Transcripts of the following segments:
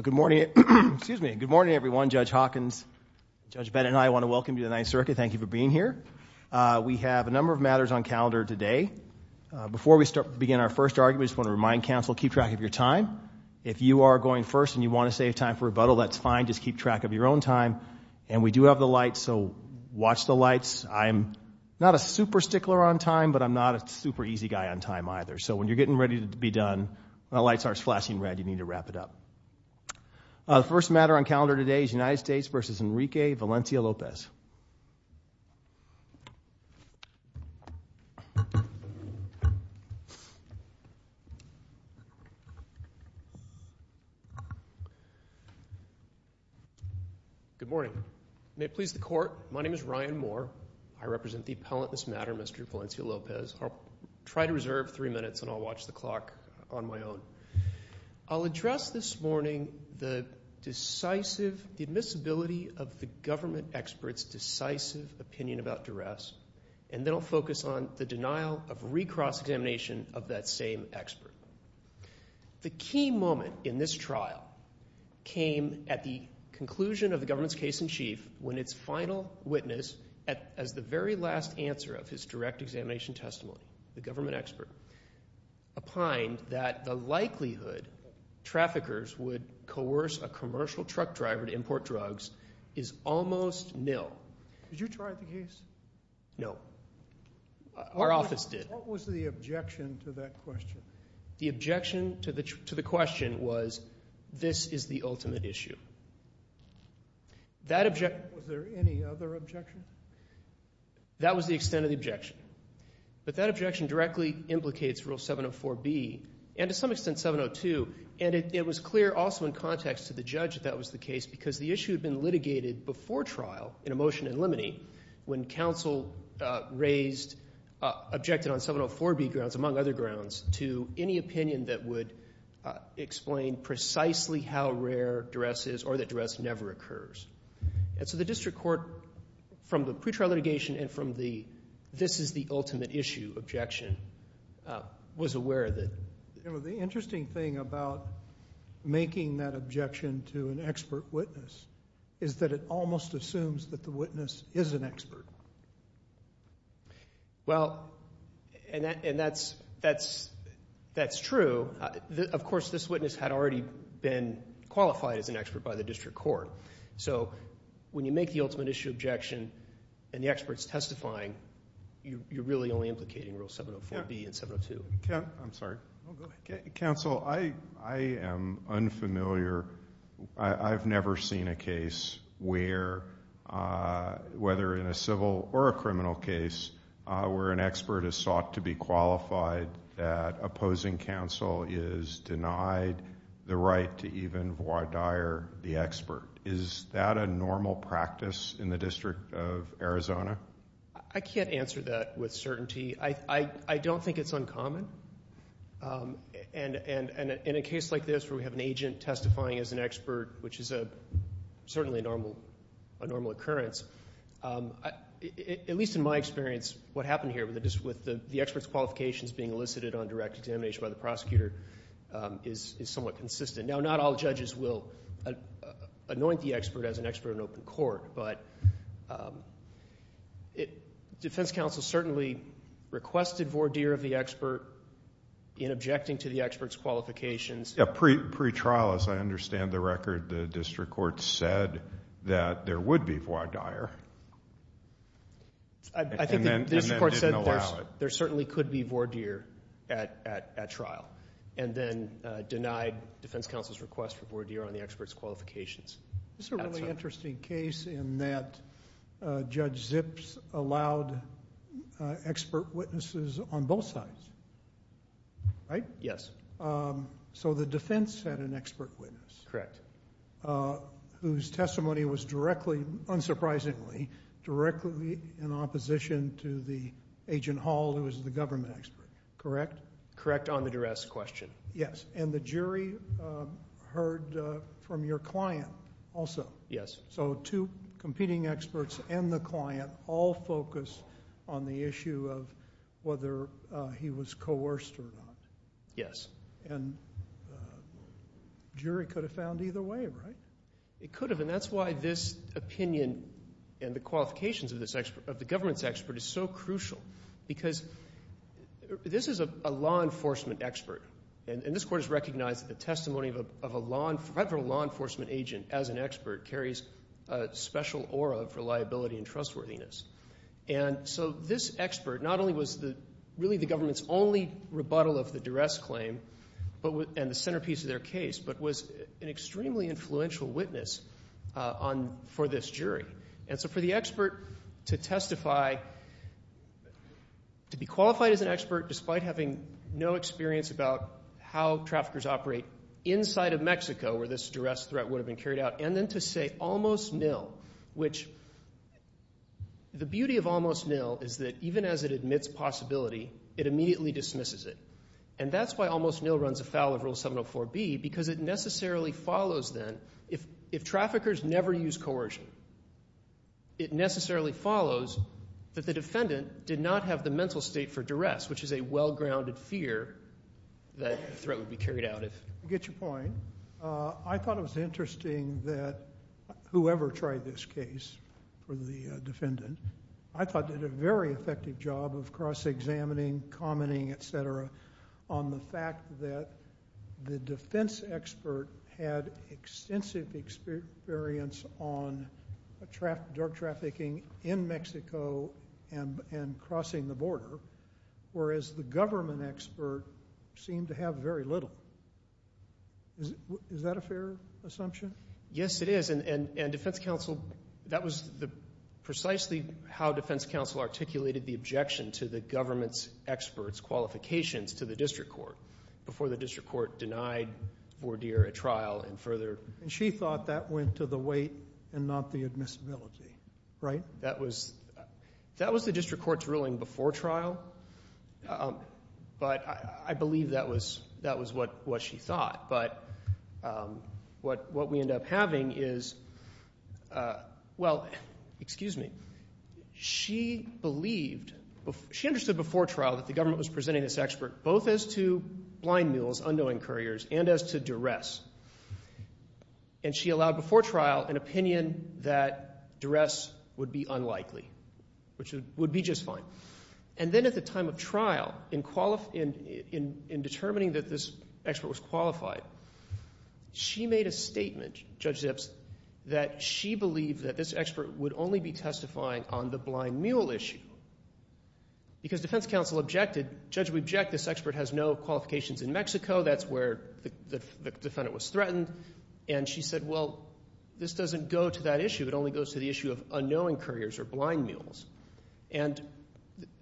Good morning, everyone. Judge Hawkins, Judge Bennett and I want to welcome you to the Ninth Circuit. Thank you for being here. We have a number of matters on calendar today. Before we begin our first argument, I just want to remind counsel to keep track of your time. If you are going first and you want to save time for rebuttal, that's fine. Just keep track of your own time. And we do have the lights, so watch the lights. I'm not a super busy guy on time either. So when you're getting ready to be done, when the lights start flashing red, you need to wrap it up. The first matter on calendar today is United States v. Enrique Valencia-Lopez. Good morning. May it please the Court, my name is Ryan Moore. I represent the appellant in this matter, Mr. Valencia-Lopez. I'll try to reserve three minutes and I'll watch the clock on my own. I'll address this morning the decisive, the admissibility of the government expert's decisive opinion about duress, and then I'll focus on the denial of recross-examination of that same expert. The key moment in this trial came at the conclusion of the government's case-in-chief when its final witness, as the very last answer of his direct examination testimony, the government expert, opined that the likelihood traffickers would coerce a commercial truck driver to import drugs is almost nil. Did you try the case? No. Our office did. What was the objection to that question? The objection to the question was this is the ultimate issue. Was there any other objection? That was the extent of the objection. But that objection directly implicates Rule 704B, and to some extent 702, and it was clear also in context to the judge that that was the case because the issue had been litigated before trial in a motion in limine when counsel raised, objected on 704B grounds, among other grounds, to any opinion that would explain precisely how rare duress is or that duress never occurs. And so the district court, from the pretrial litigation and from the this is the ultimate issue objection, was aware of that. You know, the interesting thing about making that objection to an expert witness is that it almost assumes that the That's true. Of course, this witness had already been qualified as an expert by the district court. So when you make the ultimate issue objection and the expert's testifying, you're really only implicating Rule 704B and 702. I'm sorry. Go ahead. Counsel, I am unfamiliar. I've never seen a case where, whether in a civil or a criminal case, where an expert is sought to be qualified, that opposing counsel is denied the right to even voir dire the expert. Is that a normal practice in the District of Arizona? I can't answer that with certainty. I don't think it's uncommon. And in a case like this where we have an agent testifying as an expert, which is certainly a normal occurrence, at least in my experience, what happened here with the expert's qualifications being elicited on direct examination by the prosecutor is somewhat consistent. Now, not all judges will anoint the expert as an expert in open court, but defense counsel certainly requested voir dire of the expert in objecting to the expert's qualifications. Yeah, pretrial, as I understand the record, the district court said that there would be voir dire. I think the district court said there certainly could be voir dire at trial, and then denied defense counsel's request for voir dire on the expert's qualifications. That's right. This is a really interesting case in that Judge Zips allowed expert witnesses on both sides, right? Yes. So the defense had an expert witness. Correct. Whose testimony was directly, unsurprisingly, directly in opposition to the agent Hall, who was the government expert. Correct? Correct on the duress question. Yes. And the jury heard from your client also. Yes. So two competing experts and the client all focused on the issue of whether he was coerced or not. Yes. And jury could have found either way, right? It could have, and that's why this opinion and the qualifications of this expert, of the government's expert, is so crucial. Because this is a law enforcement expert, and this court has recognized that the testimony of a federal law enforcement agent as an expert carries a special aura of reliability and trustworthiness. And so this expert not only was really the government's only rebuttal of the duress claim and the centerpiece of their case, but was an extremely influential witness for this jury. And so for the expert to testify, to be qualified as an expert despite having no experience about how traffickers operate inside of Mexico, where this duress threat would have been carried out, and then to say almost nil, which the beauty of almost nil is that even as it admits possibility, it immediately dismisses it. And that's why almost nil runs afoul of Rule 704B, because it necessarily follows then, if traffickers never use coercion, it necessarily follows that the defendant did not have the mental state for duress, which is a well-grounded fear that threat would be carried out. I get your point. I thought it was interesting that whoever tried this case, for the defendant, I thought did a very effective job of cross-examining, commenting, etc., on the fact that the defense expert had extensive experience on drug trafficking in Mexico and crossing the border, whereas the government expert seemed to have very little. Is that a fair assumption? Yes, it is. And defense counsel, that was precisely how defense counsel articulated the objection to the government's expert's qualifications to the district court before the district court denied Vordeer a trial and further. And she thought that went to the weight and not the admissibility, right? That was the district court's ruling before trial, but I believe that was what she thought. But what we end up having is, well, excuse me, she believed, she understood before trial that the government was presenting this expert both as to blind mules, unknowing couriers, and as to duress. And she would be just fine. And then at the time of trial, in determining that this expert was qualified, she made a statement, Judge Zips, that she believed that this expert would only be testifying on the blind mule issue. Because defense counsel objected, judge would object this expert has no qualifications in Mexico. That's where the defendant was threatened. And she said, well, this doesn't go to that issue. It only goes to the issue of unknowing couriers or blind mules. And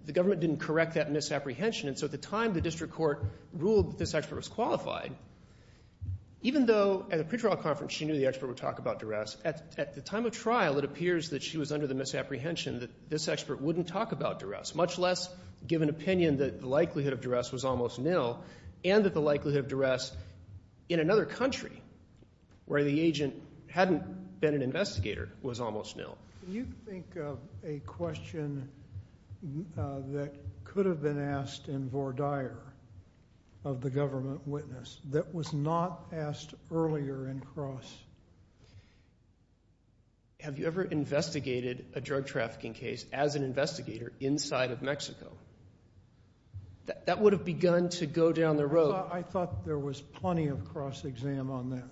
the government didn't correct that misapprehension. And so at the time, the district court ruled that this expert was qualified. Even though at a pretrial conference, she knew the expert would talk about duress, at the time of trial, it appears that she was under the misapprehension that this expert wouldn't talk about duress, much less give an opinion that the likelihood of duress was almost nil, and that the likelihood of duress in an investigator was almost nil. Can you think of a question that could have been asked in Vore Dyer of the government witness that was not asked earlier in cross? Have you ever investigated a drug trafficking case as an investigator inside of Mexico? That would have begun to go down the road. I thought there was plenty of cross-exam on that.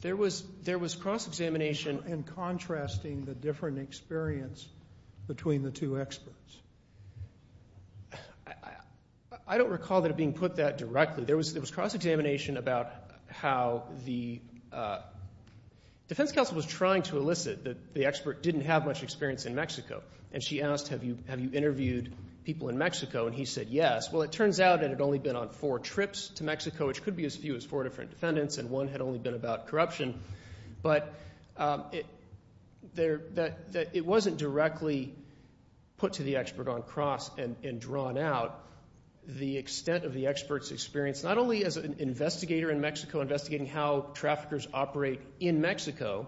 There was cross-examination. And contrasting the different experience between the two experts. I don't recall that being put that directly. There was cross-examination about how the defense counsel was trying to elicit that the expert didn't have much experience in Mexico. And she asked, have you interviewed people in Mexico? And he said yes. Well, it turns out it had only been on four trips to Mexico, which could be as few as four different defendants, and one had only been about corruption. But it wasn't directly put to the expert on cross and drawn out. The extent of the expert's experience, not only as an investigator in Mexico investigating how traffickers operate in Mexico,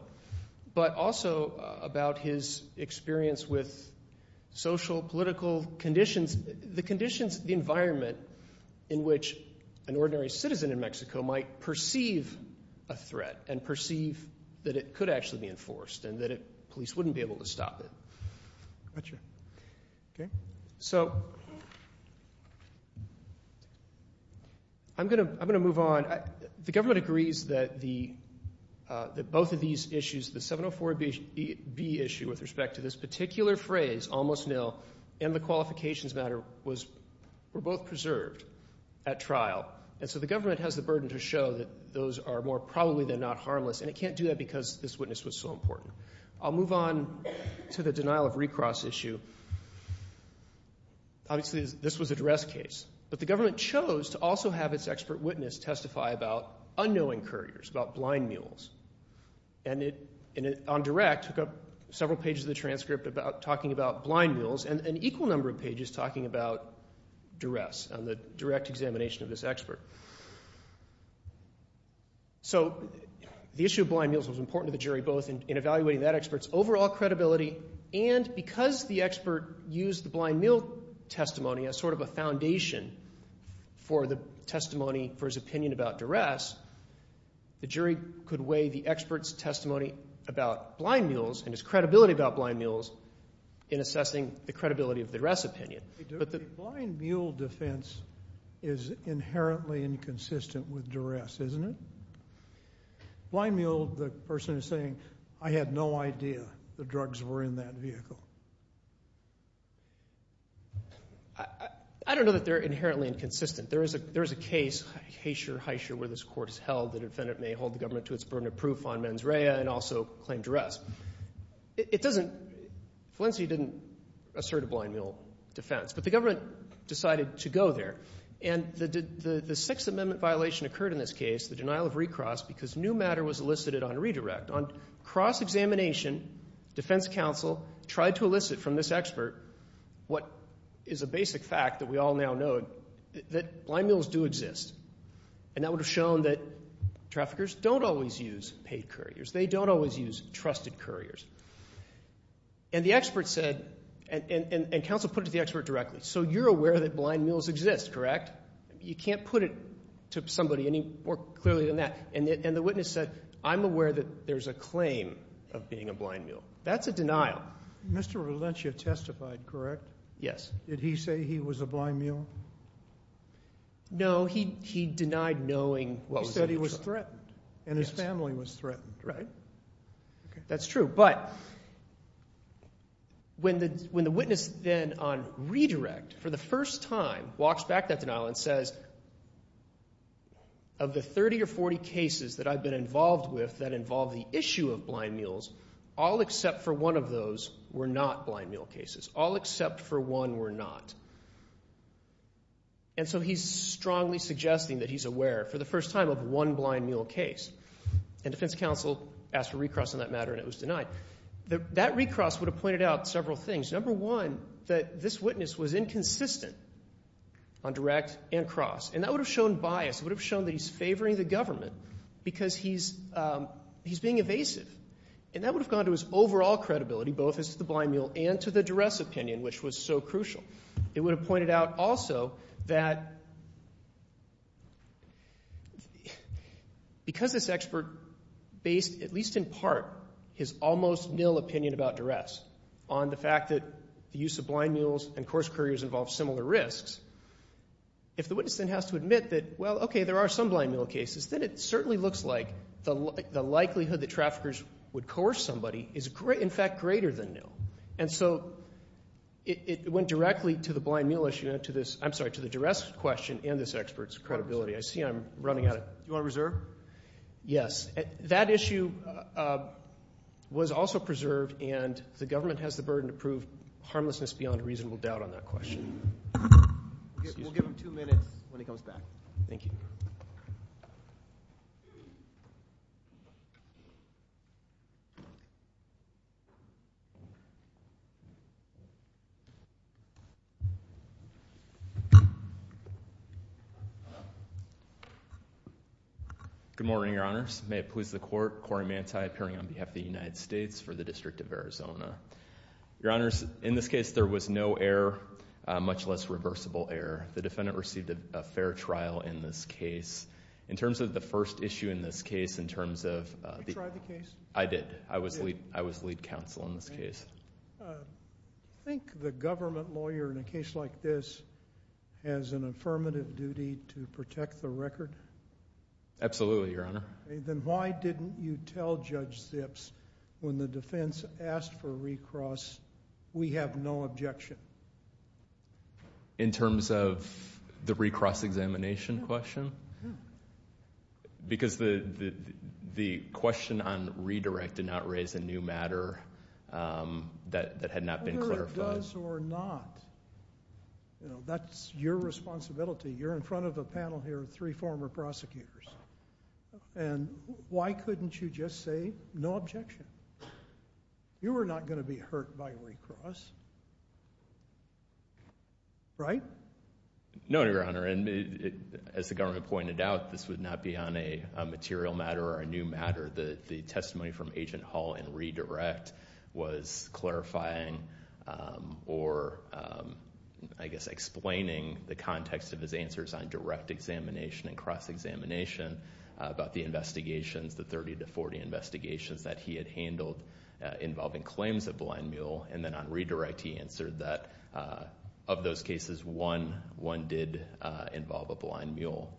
but also about his experience with social, political conditions, the conditions, the environment in which an ordinary citizen in Mexico might perceive a threat and perceive that it could actually be enforced and that police wouldn't be able to stop it. So I'm going to move on. The government agrees that both of these issues, the 704B issue with respect to this particular phrase, almost nil, and the qualifications matter were both preserved at trial. And so the government has the burden to show that those are more probably than not harmless, and it can't do that because this witness was so important. I'll move on to the denial of recross issue. Obviously, this was a duress case. But the government chose to also have its expert witness testify about unknowing couriers, about blind mules. And it, on direct, took up several pages of the transcript talking about blind mules and an equal number of pages talking about duress on the direct examination of this expert. So the issue of blind mules was important to the jury both in evaluating that expert's overall credibility and because the expert used the blind mule testimony as sort of a way the expert's testimony about blind mules and his credibility about blind mules in assessing the credibility of the duress opinion. But the blind mule defense is inherently inconsistent with duress, isn't it? Blind mule, the person is saying, I had no idea the drugs were in that vehicle. I don't know that they're inherently inconsistent. There is a case, Haysher, Hysher, where this court has held the defendant may hold the government to its burden of proof on mens rea and also claim duress. It doesn't, Felicity didn't assert a blind mule defense. But the government decided to go there. And the Sixth Amendment violation occurred in this case, the denial of recross, because new matter was elicited on redirect. On cross-examination, defense counsel tried to elicit from this expert what is a basic fact that we all now know that blind mules do exist. And that would have shown that traffickers don't always use paid couriers. They don't always use trusted couriers. And the expert said, and counsel put it to the expert directly, so you're aware that blind mules exist, correct? You can't put it to somebody any more clearly than that. And the witness said, I'm aware that there's a claim of being a blind mule. That's a denial. Mr. Valencia testified, correct? Yes. Did he say he was a blind mule? No, he denied knowing what was in the truck. He said he was threatened. And his family was threatened. Right. That's true. But when the witness then on redirect for the first time walks back that denial and says, of the 30 or 40 cases that I've been involved with that involve the issue of blind mules, all except for one of those were not blind mule cases. All except for one were not. And so he's strongly suggesting that he's aware for the first time of one blind mule case. And defense counsel asked for recross on that matter and it was denied. That recross would have pointed out several things. Number one, that this witness was inconsistent on And that would have shown bias. It would have shown that he's favoring the government because he's being evasive. And that would have gone to his overall credibility, both as the blind mule and to the duress opinion, which was so crucial. It would have pointed out also that because this expert based, at least in part, his almost nil opinion about duress on the fact that the use of blind mules and course couriers involve similar risks, if the witness then has to admit that, well, okay, there are some blind mule cases, then it certainly looks like the likelihood that traffickers would coerce somebody is, in fact, greater than nil. And so it went directly to the blind mule issue and to this, I'm sorry, to the duress question and this expert's credibility. I see I'm running out of, do you want to reserve? Yes. That issue was also preserved and the We'll give him two minutes when he comes back. Thank you. Good morning, Your Honors. May it please the court, Corey Manti appearing on behalf of the United States for the District of Arizona. Your defendant received a fair trial in this case. In terms of the first issue in this case, in terms of, I did. I was lead counsel in this case. I think the government lawyer in a case like this has an affirmative duty to protect the record. Absolutely, Your Honor. Then why didn't you tell Judge Zips when the defense asked for a recross, we have no objection? In terms of the recross examination question? Because the question on redirect did not raise a new matter that had not been clarified. Whether it does or not, that's your responsibility. You're in front of a panel here of three former prosecutors. And why couldn't you just say no objection? You are not going to be hurt by recross. Right? No, Your Honor. And as the government pointed out, this would not be on a material matter or a new matter. The testimony from Agent Hall in redirect was clarifying or I guess explaining the context of his answers on direct examination and cross examination about the investigations, the 30 to 40 investigations that he had handled involving claims of blind mule. And then on redirect he answered that of those cases, one did involve a blind mule.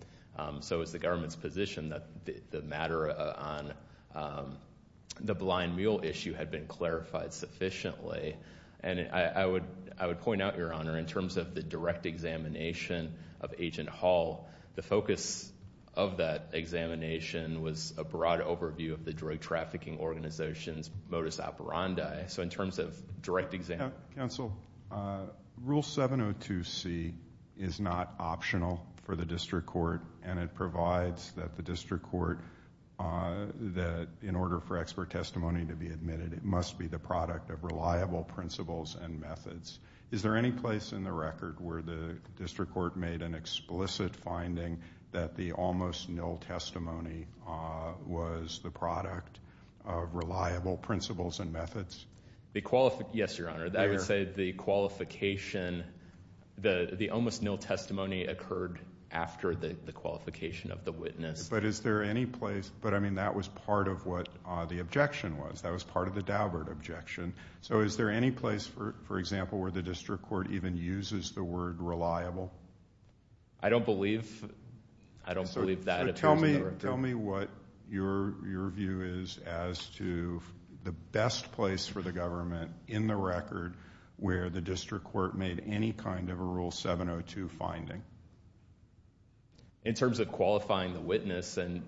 So it's the government's position that the matter on the blind mule issue had been clarified sufficiently. And I would point out, Your Honor, in terms of the direct examination of Agent Hall, the focus of that examination was a broad overview of the drug trafficking organization's modus operandi. So in terms of direct exam- Counsel, Rule 702C is not optional for the district court and it provides that the district court, that in order for expert testimony to be admitted, it must be the product of reliable principles and methods. Is there any place in the record where the district court made an explicit finding that the almost nil testimony was the I would say the qualification, the almost nil testimony occurred after the qualification of the witness. But is there any place, but I mean that was part of what the objection was. That was part of the Daubert objection. So is there any place, for example, where the district court even uses the word reliable? I don't believe, I don't believe that appears in the record. Tell me what your view is as to the best place for the government in the record where the district court made any kind of a Rule 702 finding. In terms of qualifying the witness, and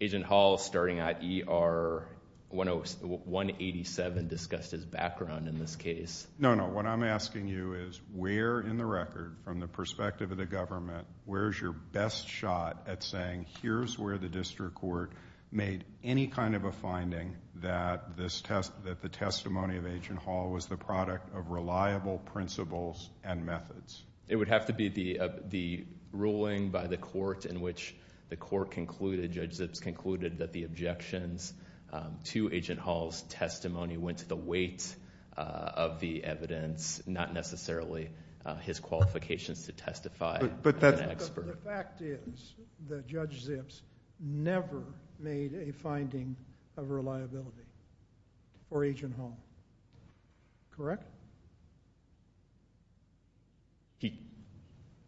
Agent Hall starting at ER 187 discussed his background in this case. No, no. What I'm asking you is where in the record, from the perspective of the government, where's your best shot at saying here's where the district court made any kind of a finding that the testimony of Agent Hall was the product of reliable principles and methods? It would have to be the ruling by the court in which the court concluded, Judge Zips concluded that the objections to Agent Hall's testimony went to the weight of the evidence, not necessarily his qualifications to testify. But the fact is that Judge Zips never made a finding of reliability for Agent Hall. Correct?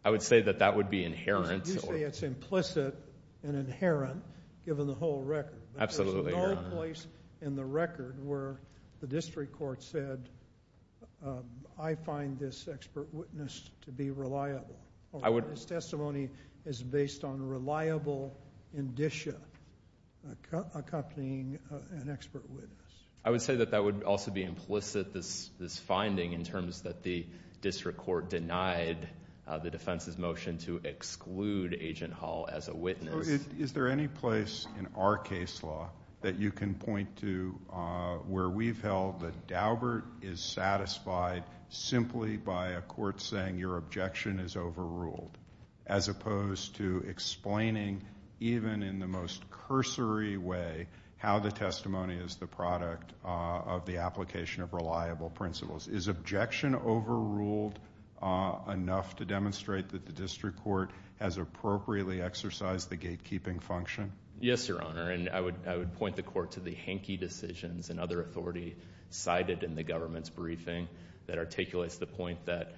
I would say that that would be inherent. You say it's implicit and inherent, given the whole record. Absolutely, Your Honor. There's no place in the record where the district court said, I find this expert witness to be reliable. His testimony is based on reliable indicia, accompanying an expert witness. I would say that that would also be implicit, this finding, in terms that the district court denied the defense's motion to exclude Agent Hall as a witness. Is there any place in our case law that you can point to where we've held that Daubert is satisfied simply by a court saying your objection is overruled, as opposed to explaining, even in the most cursory way, how the testimony is the product of the application of reliable principles? Is objection overruled enough to demonstrate that the district court has appropriately exercised the gatekeeping function? Yes, Your Honor. And I would point the court to the hanky decisions and other authority cited in the government's briefing that articulates the point that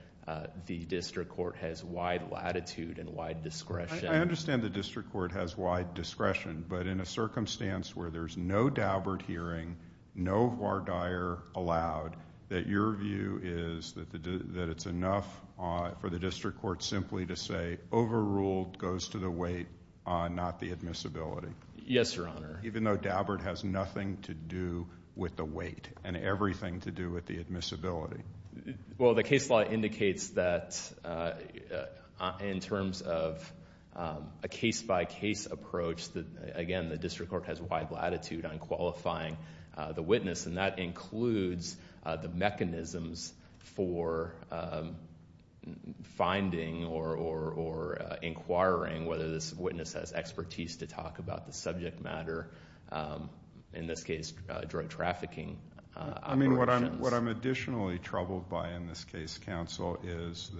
the district court has wide latitude and wide discretion. I understand the district court has wide discretion, but in a circumstance where there's no Daubert hearing, no voir dire allowed, that your view is that it's enough for the district court simply to say overruled goes to the weight, not the admissibility? Yes, Your Honor. Even though Daubert has nothing to do with the weight and everything to do with the admissibility? Well, the case law indicates that in terms of a case-by-case approach, again, the district court has wide latitude on qualifying the witness, and that includes the mechanisms for finding or inquiring whether this witness has expertise to talk about the subject matter. In this case, drug trafficking operations. I mean, what I'm additionally troubled by in this case, counsel, is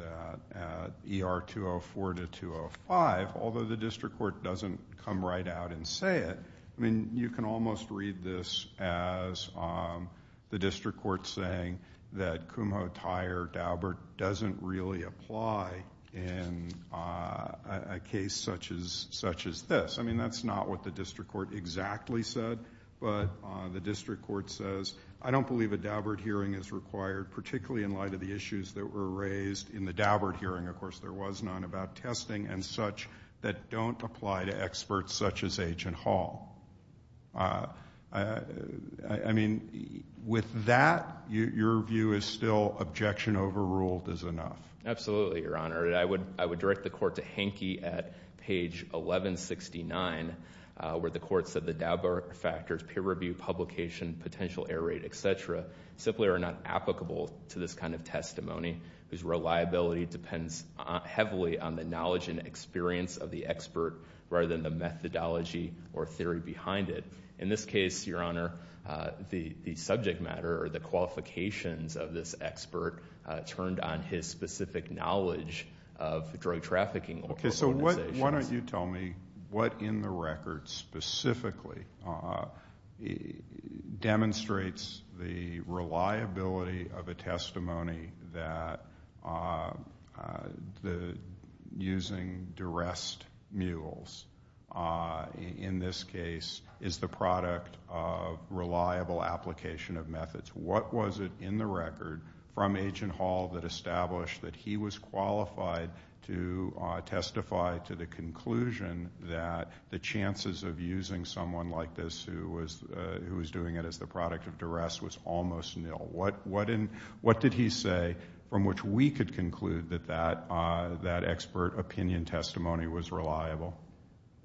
that ER 204 to 205, although the district court doesn't come right out and say it. I mean, you can almost read this as the district court saying that Kumho-Tyre-Daubert doesn't really apply in a case such as this. I mean, that's not what the district court exactly said, but the district court says, I don't believe a Daubert hearing is required, particularly in light of the issues that were raised in the Daubert hearing. Of course, there was none about testing and such that don't apply to experts such as Agent Hall. I mean, with that, your view is still objection overruled is enough? Absolutely, Your Honor. I would direct the court to Hankey at page 1169, where the court said the Daubert factors, peer review, publication, potential error rate, etc., simply are not applicable to this kind of testimony whose reliability depends heavily on the knowledge and experience of the expert rather than the methodology or theory behind it. In this case, Your Honor, the subject matter or the qualifications of this expert turned on his specific knowledge of drug trafficking organizations. Why don't you tell me what in the record specifically demonstrates the reliability of a testimony that using duress mules in this case is the product of reliable application of methods? What was it in the record from Agent Hall that established that he was qualified to testify to the conclusion that the chances of using someone like this who was doing it as the product of duress was almost nil? What did he say from which we could conclude that that expert opinion testimony was reliable?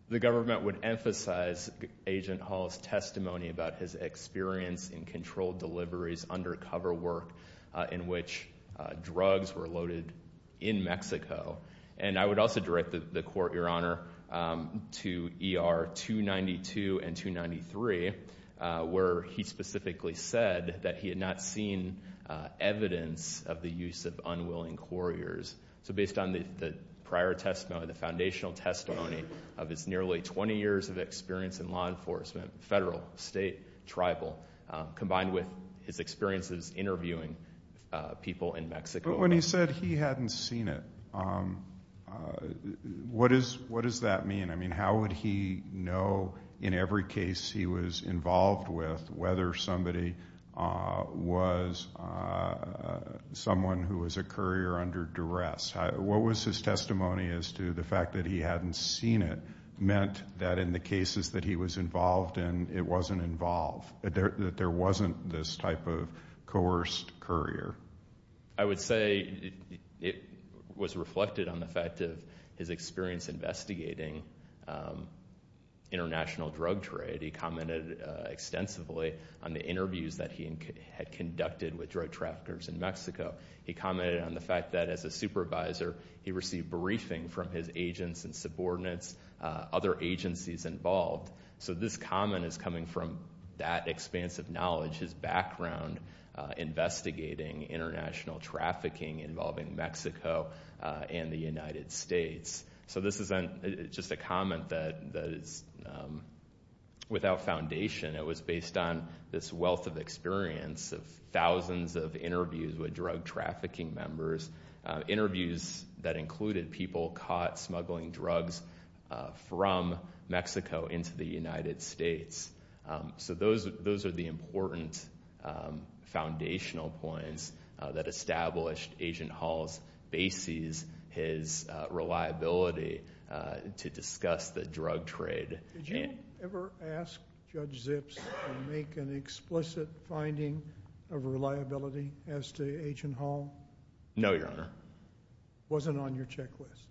The government would emphasize Agent Hall's testimony about his experience in controlled deliveries, undercover work, in which drugs were loaded in Mexico. And I would also direct the court, Your Honor, to ER 292 and 293, where he specifically said that he had not seen evidence of the use of unwilling couriers. So based on the prior testimony, the foundational testimony of his nearly 20 years of experience in law enforcement, federal, state, tribal, combined with his experiences interviewing people in Mexico. But when he said he hadn't seen it, what does that mean? I mean, how would he know in every case he was involved with whether somebody was someone who was a courier under duress? What was his testimony as to the fact that he hadn't seen it meant that in the cases that he was involved in, it wasn't involved, that there wasn't this type of coerced courier? I would say it was reflected on the fact of his experience investigating international drug trade. He commented extensively on the interviews that he had conducted with drug traffickers in Mexico. He commented on the fact that as a supervisor, he received briefing from his agents and subordinates, other agencies involved. So this comment is coming from that expanse of knowledge, his background investigating international trafficking involving Mexico and the United States. So this isn't just a comment that is without foundation. It was based on this wealth of experience of thousands of interviews with drug trafficking members, interviews that included people caught smuggling drugs from Mexico into the United States. So those are the important foundational points that established Agent Hall's bases, his reliability to discuss the drug trade. Did you ever ask Judge Zips to make an explicit finding of reliability as to Agent Hall? No, Your Honor. It wasn't on your checklist?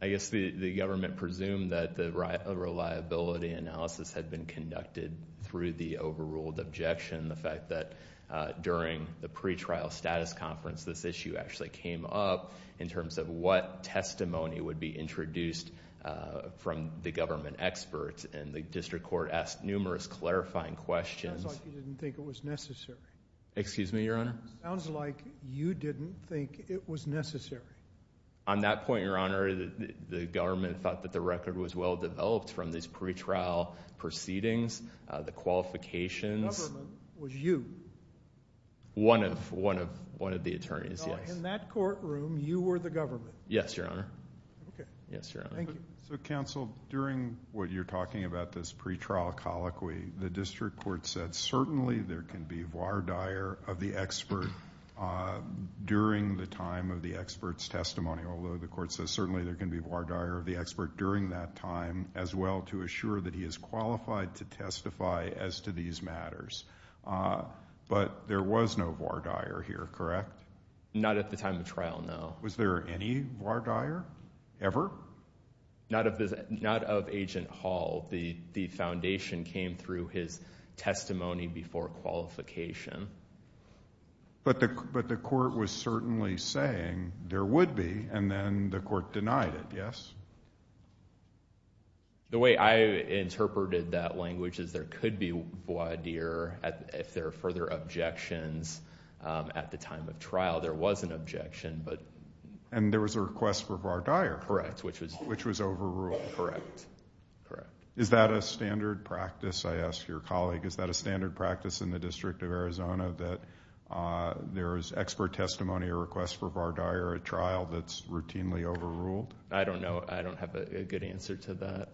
I guess the government presumed that the reliability analysis had been conducted through the overruled objection, the fact that during the pretrial status conference, this issue actually came up in terms of what testimony would be introduced from the government experts. And the district court asked numerous clarifying questions. It sounds like you didn't think it was necessary. Excuse me, Your Honor? It sounds like you didn't think it was necessary. On that point, Your Honor, the government thought that the record was well developed from these pretrial proceedings, the qualifications. The government was you? One of the attorneys, yes. So in that courtroom, you were the government? Yes, Your Honor. Okay. Yes, Your Honor. Thank you. Counsel, during what you're talking about, this pretrial colloquy, the district court said certainly there can be voir dire of the expert during the time of the expert's testimony. Although the court says certainly there can be voir dire of the expert during that time as well to assure that he is qualified to testify as to these matters. But there was no voir dire here, correct? Not at the time of trial, no. Was there any voir dire ever? Not of Agent Hall. The foundation came through his testimony before qualification. But the court was certainly saying there would be, and then the court denied it, yes? The way I interpreted that language is there could be voir dire if there are further objections at the time of trial. There was an objection. And there was a request for voir dire. Correct. Which was overruled. Correct. Is that a standard practice, I ask your colleague, is that a standard practice in the District of Arizona that there is expert testimony or request for voir dire at trial that's routinely overruled? I don't know. I don't have a good answer to that.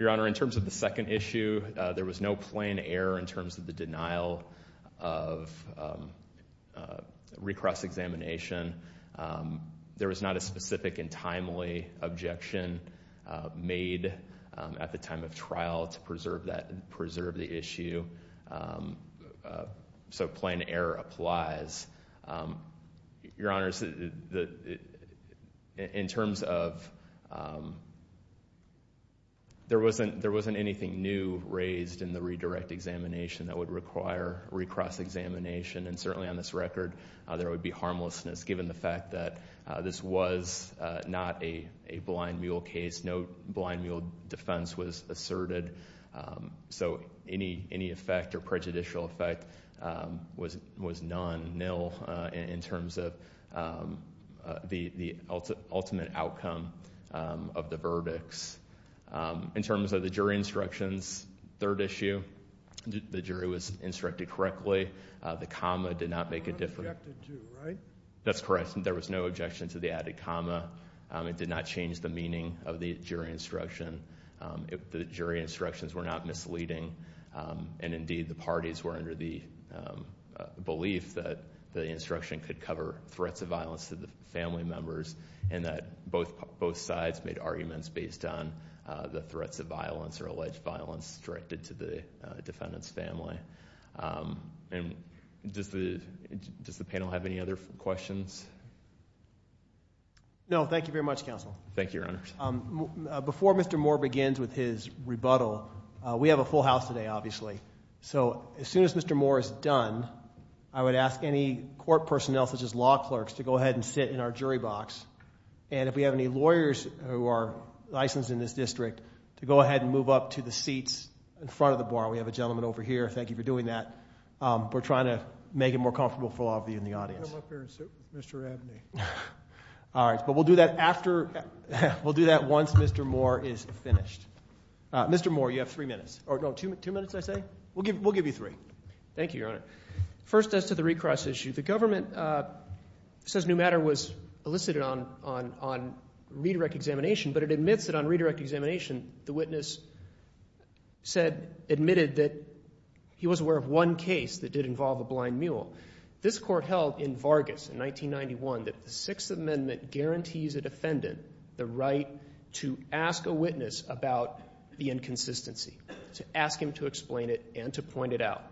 Your Honor, in terms of the second issue, there was no plain error in terms of the denial of recross examination. There was not a specific and timely objection made at the time of trial to preserve the issue. So plain error applies. Your Honor, in terms of, there wasn't anything new raised in the redirect examination that would require recross examination. And certainly on this record, there would be harmlessness given the fact that this was not a blind mule case. No blind mule defense was asserted. So any effect or prejudicial effect was non-nil in terms of the ultimate outcome of the verdicts. In terms of the jury instructions, third issue, the jury was instructed correctly. The comma did not make a difference. It was not objected to, right? That's correct. There was no objection to the added comma. It did not change the meaning of the jury instruction. The jury instructions were not misleading. And indeed, the parties were under the belief that the instruction could cover threats of violence to the family members. And that both sides made arguments based on the threats of violence or alleged violence directed to the defendant's family. And does the panel have any other questions? No, thank you very much, Counsel. Thank you, Your Honor. Before Mr. Moore begins with his rebuttal, we have a full house today, obviously. So as soon as Mr. Moore is done, I would ask any court personnel such as law clerks to go ahead and sit in our jury box. And if we have any lawyers who are licensed in this district, to go ahead and move up to the seats in front of the bar. We have a gentleman over here. Thank you for doing that. We're trying to make it more comfortable for all of you in the audience. Come up here and sit with Mr. Abney. All right, but we'll do that once Mr. Moore is finished. Mr. Moore, you have three minutes. No, two minutes, I say. We'll give you three. Thank you, Your Honor. First, as to the recross issue, the government says Newmatter was elicited on redirect examination, but it admits that on redirect examination, the witness admitted that he was aware of one case that did involve a blind mule. This court held in Vargas in 1991 that the Sixth Amendment guarantees a defendant the right to ask a witness about the inconsistency, to ask him to explain it and to point it out.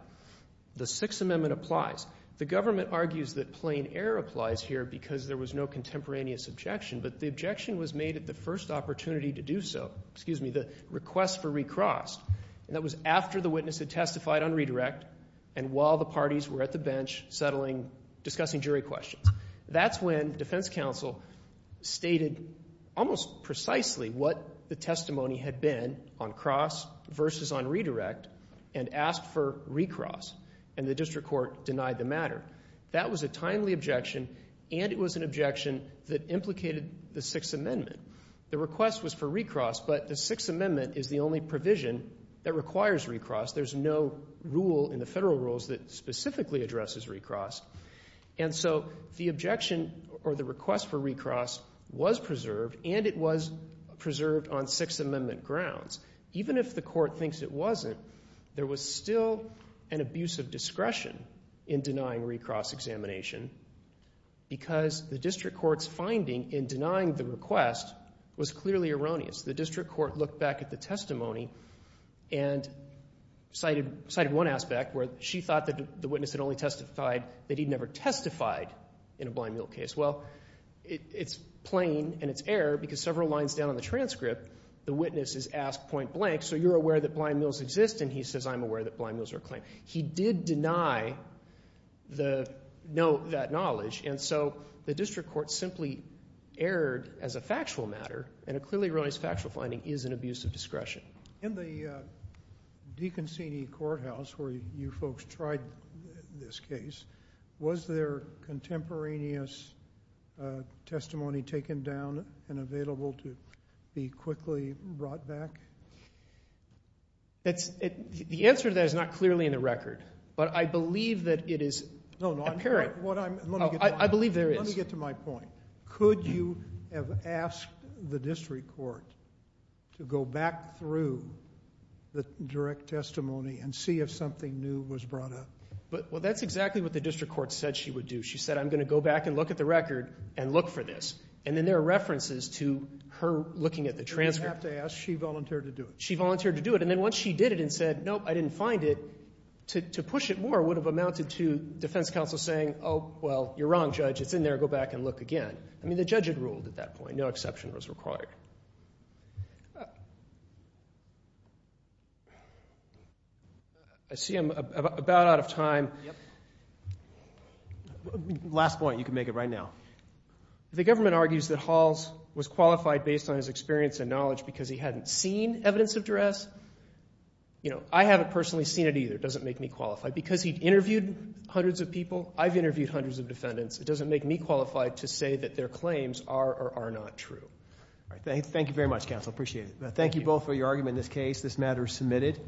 The Sixth Amendment applies. The government argues that plain error applies here because there was no contemporaneous objection, but the objection was made at the first opportunity to do so, excuse me, the request for recross. And that was after the witness had testified on redirect and while the parties were at the bench settling, discussing jury questions. That's when defense counsel stated almost precisely what the testimony had been on cross versus on redirect and asked for recross, and the district court denied the matter. That was a timely objection, and it was an objection that implicated the Sixth Amendment. The request was for recross, but the Sixth Amendment is the only provision that requires recross. There's no rule in the federal rules that specifically addresses recross. And so the objection or the request for recross was preserved, and it was preserved on Sixth Amendment grounds. Even if the court thinks it wasn't, there was still an abuse of discretion in denying recross examination because the district court's finding in denying the request was clearly erroneous. The district court looked back at the testimony and cited one aspect where she thought that the witness had only testified, that he'd never testified in a blind meal case. Well, it's plain and it's error because several lines down on the transcript, the witness is asked point blank, so you're aware that blind meals exist, and he says I'm aware that blind meals are a claim. He did deny that knowledge, and so the district court simply erred as a factual matter, and a clearly erroneous factual finding is an abuse of discretion. In the DeConcini courthouse where you folks tried this case, was there contemporaneous testimony taken down and available to be quickly brought back? The answer to that is not clearly in the record, but I believe that it is apparent. I believe there is. Let me get to my point. Could you have asked the district court to go back through the direct testimony and see if something new was brought up? Well, that's exactly what the district court said she would do. She said I'm going to go back and look at the record and look for this, and then there are references to her looking at the transcript. She volunteered to do it. She volunteered to do it, and then once she did it and said, nope, I didn't find it, to push it more would have amounted to defense counsel saying, oh, well, you're wrong, judge. It's in there. Go back and look again. I mean the judge had ruled at that point. No exception was required. I see I'm about out of time. Last point. You can make it right now. The government argues that Halls was qualified based on his experience and knowledge because he hadn't seen evidence of duress. I haven't personally seen it either. It doesn't make me qualify. Because he interviewed hundreds of people, I've interviewed hundreds of defendants. It doesn't make me qualify to say that their claims are or are not true. Thank you very much, counsel. I appreciate it. Thank you both for your argument in this case. This matter is submitted.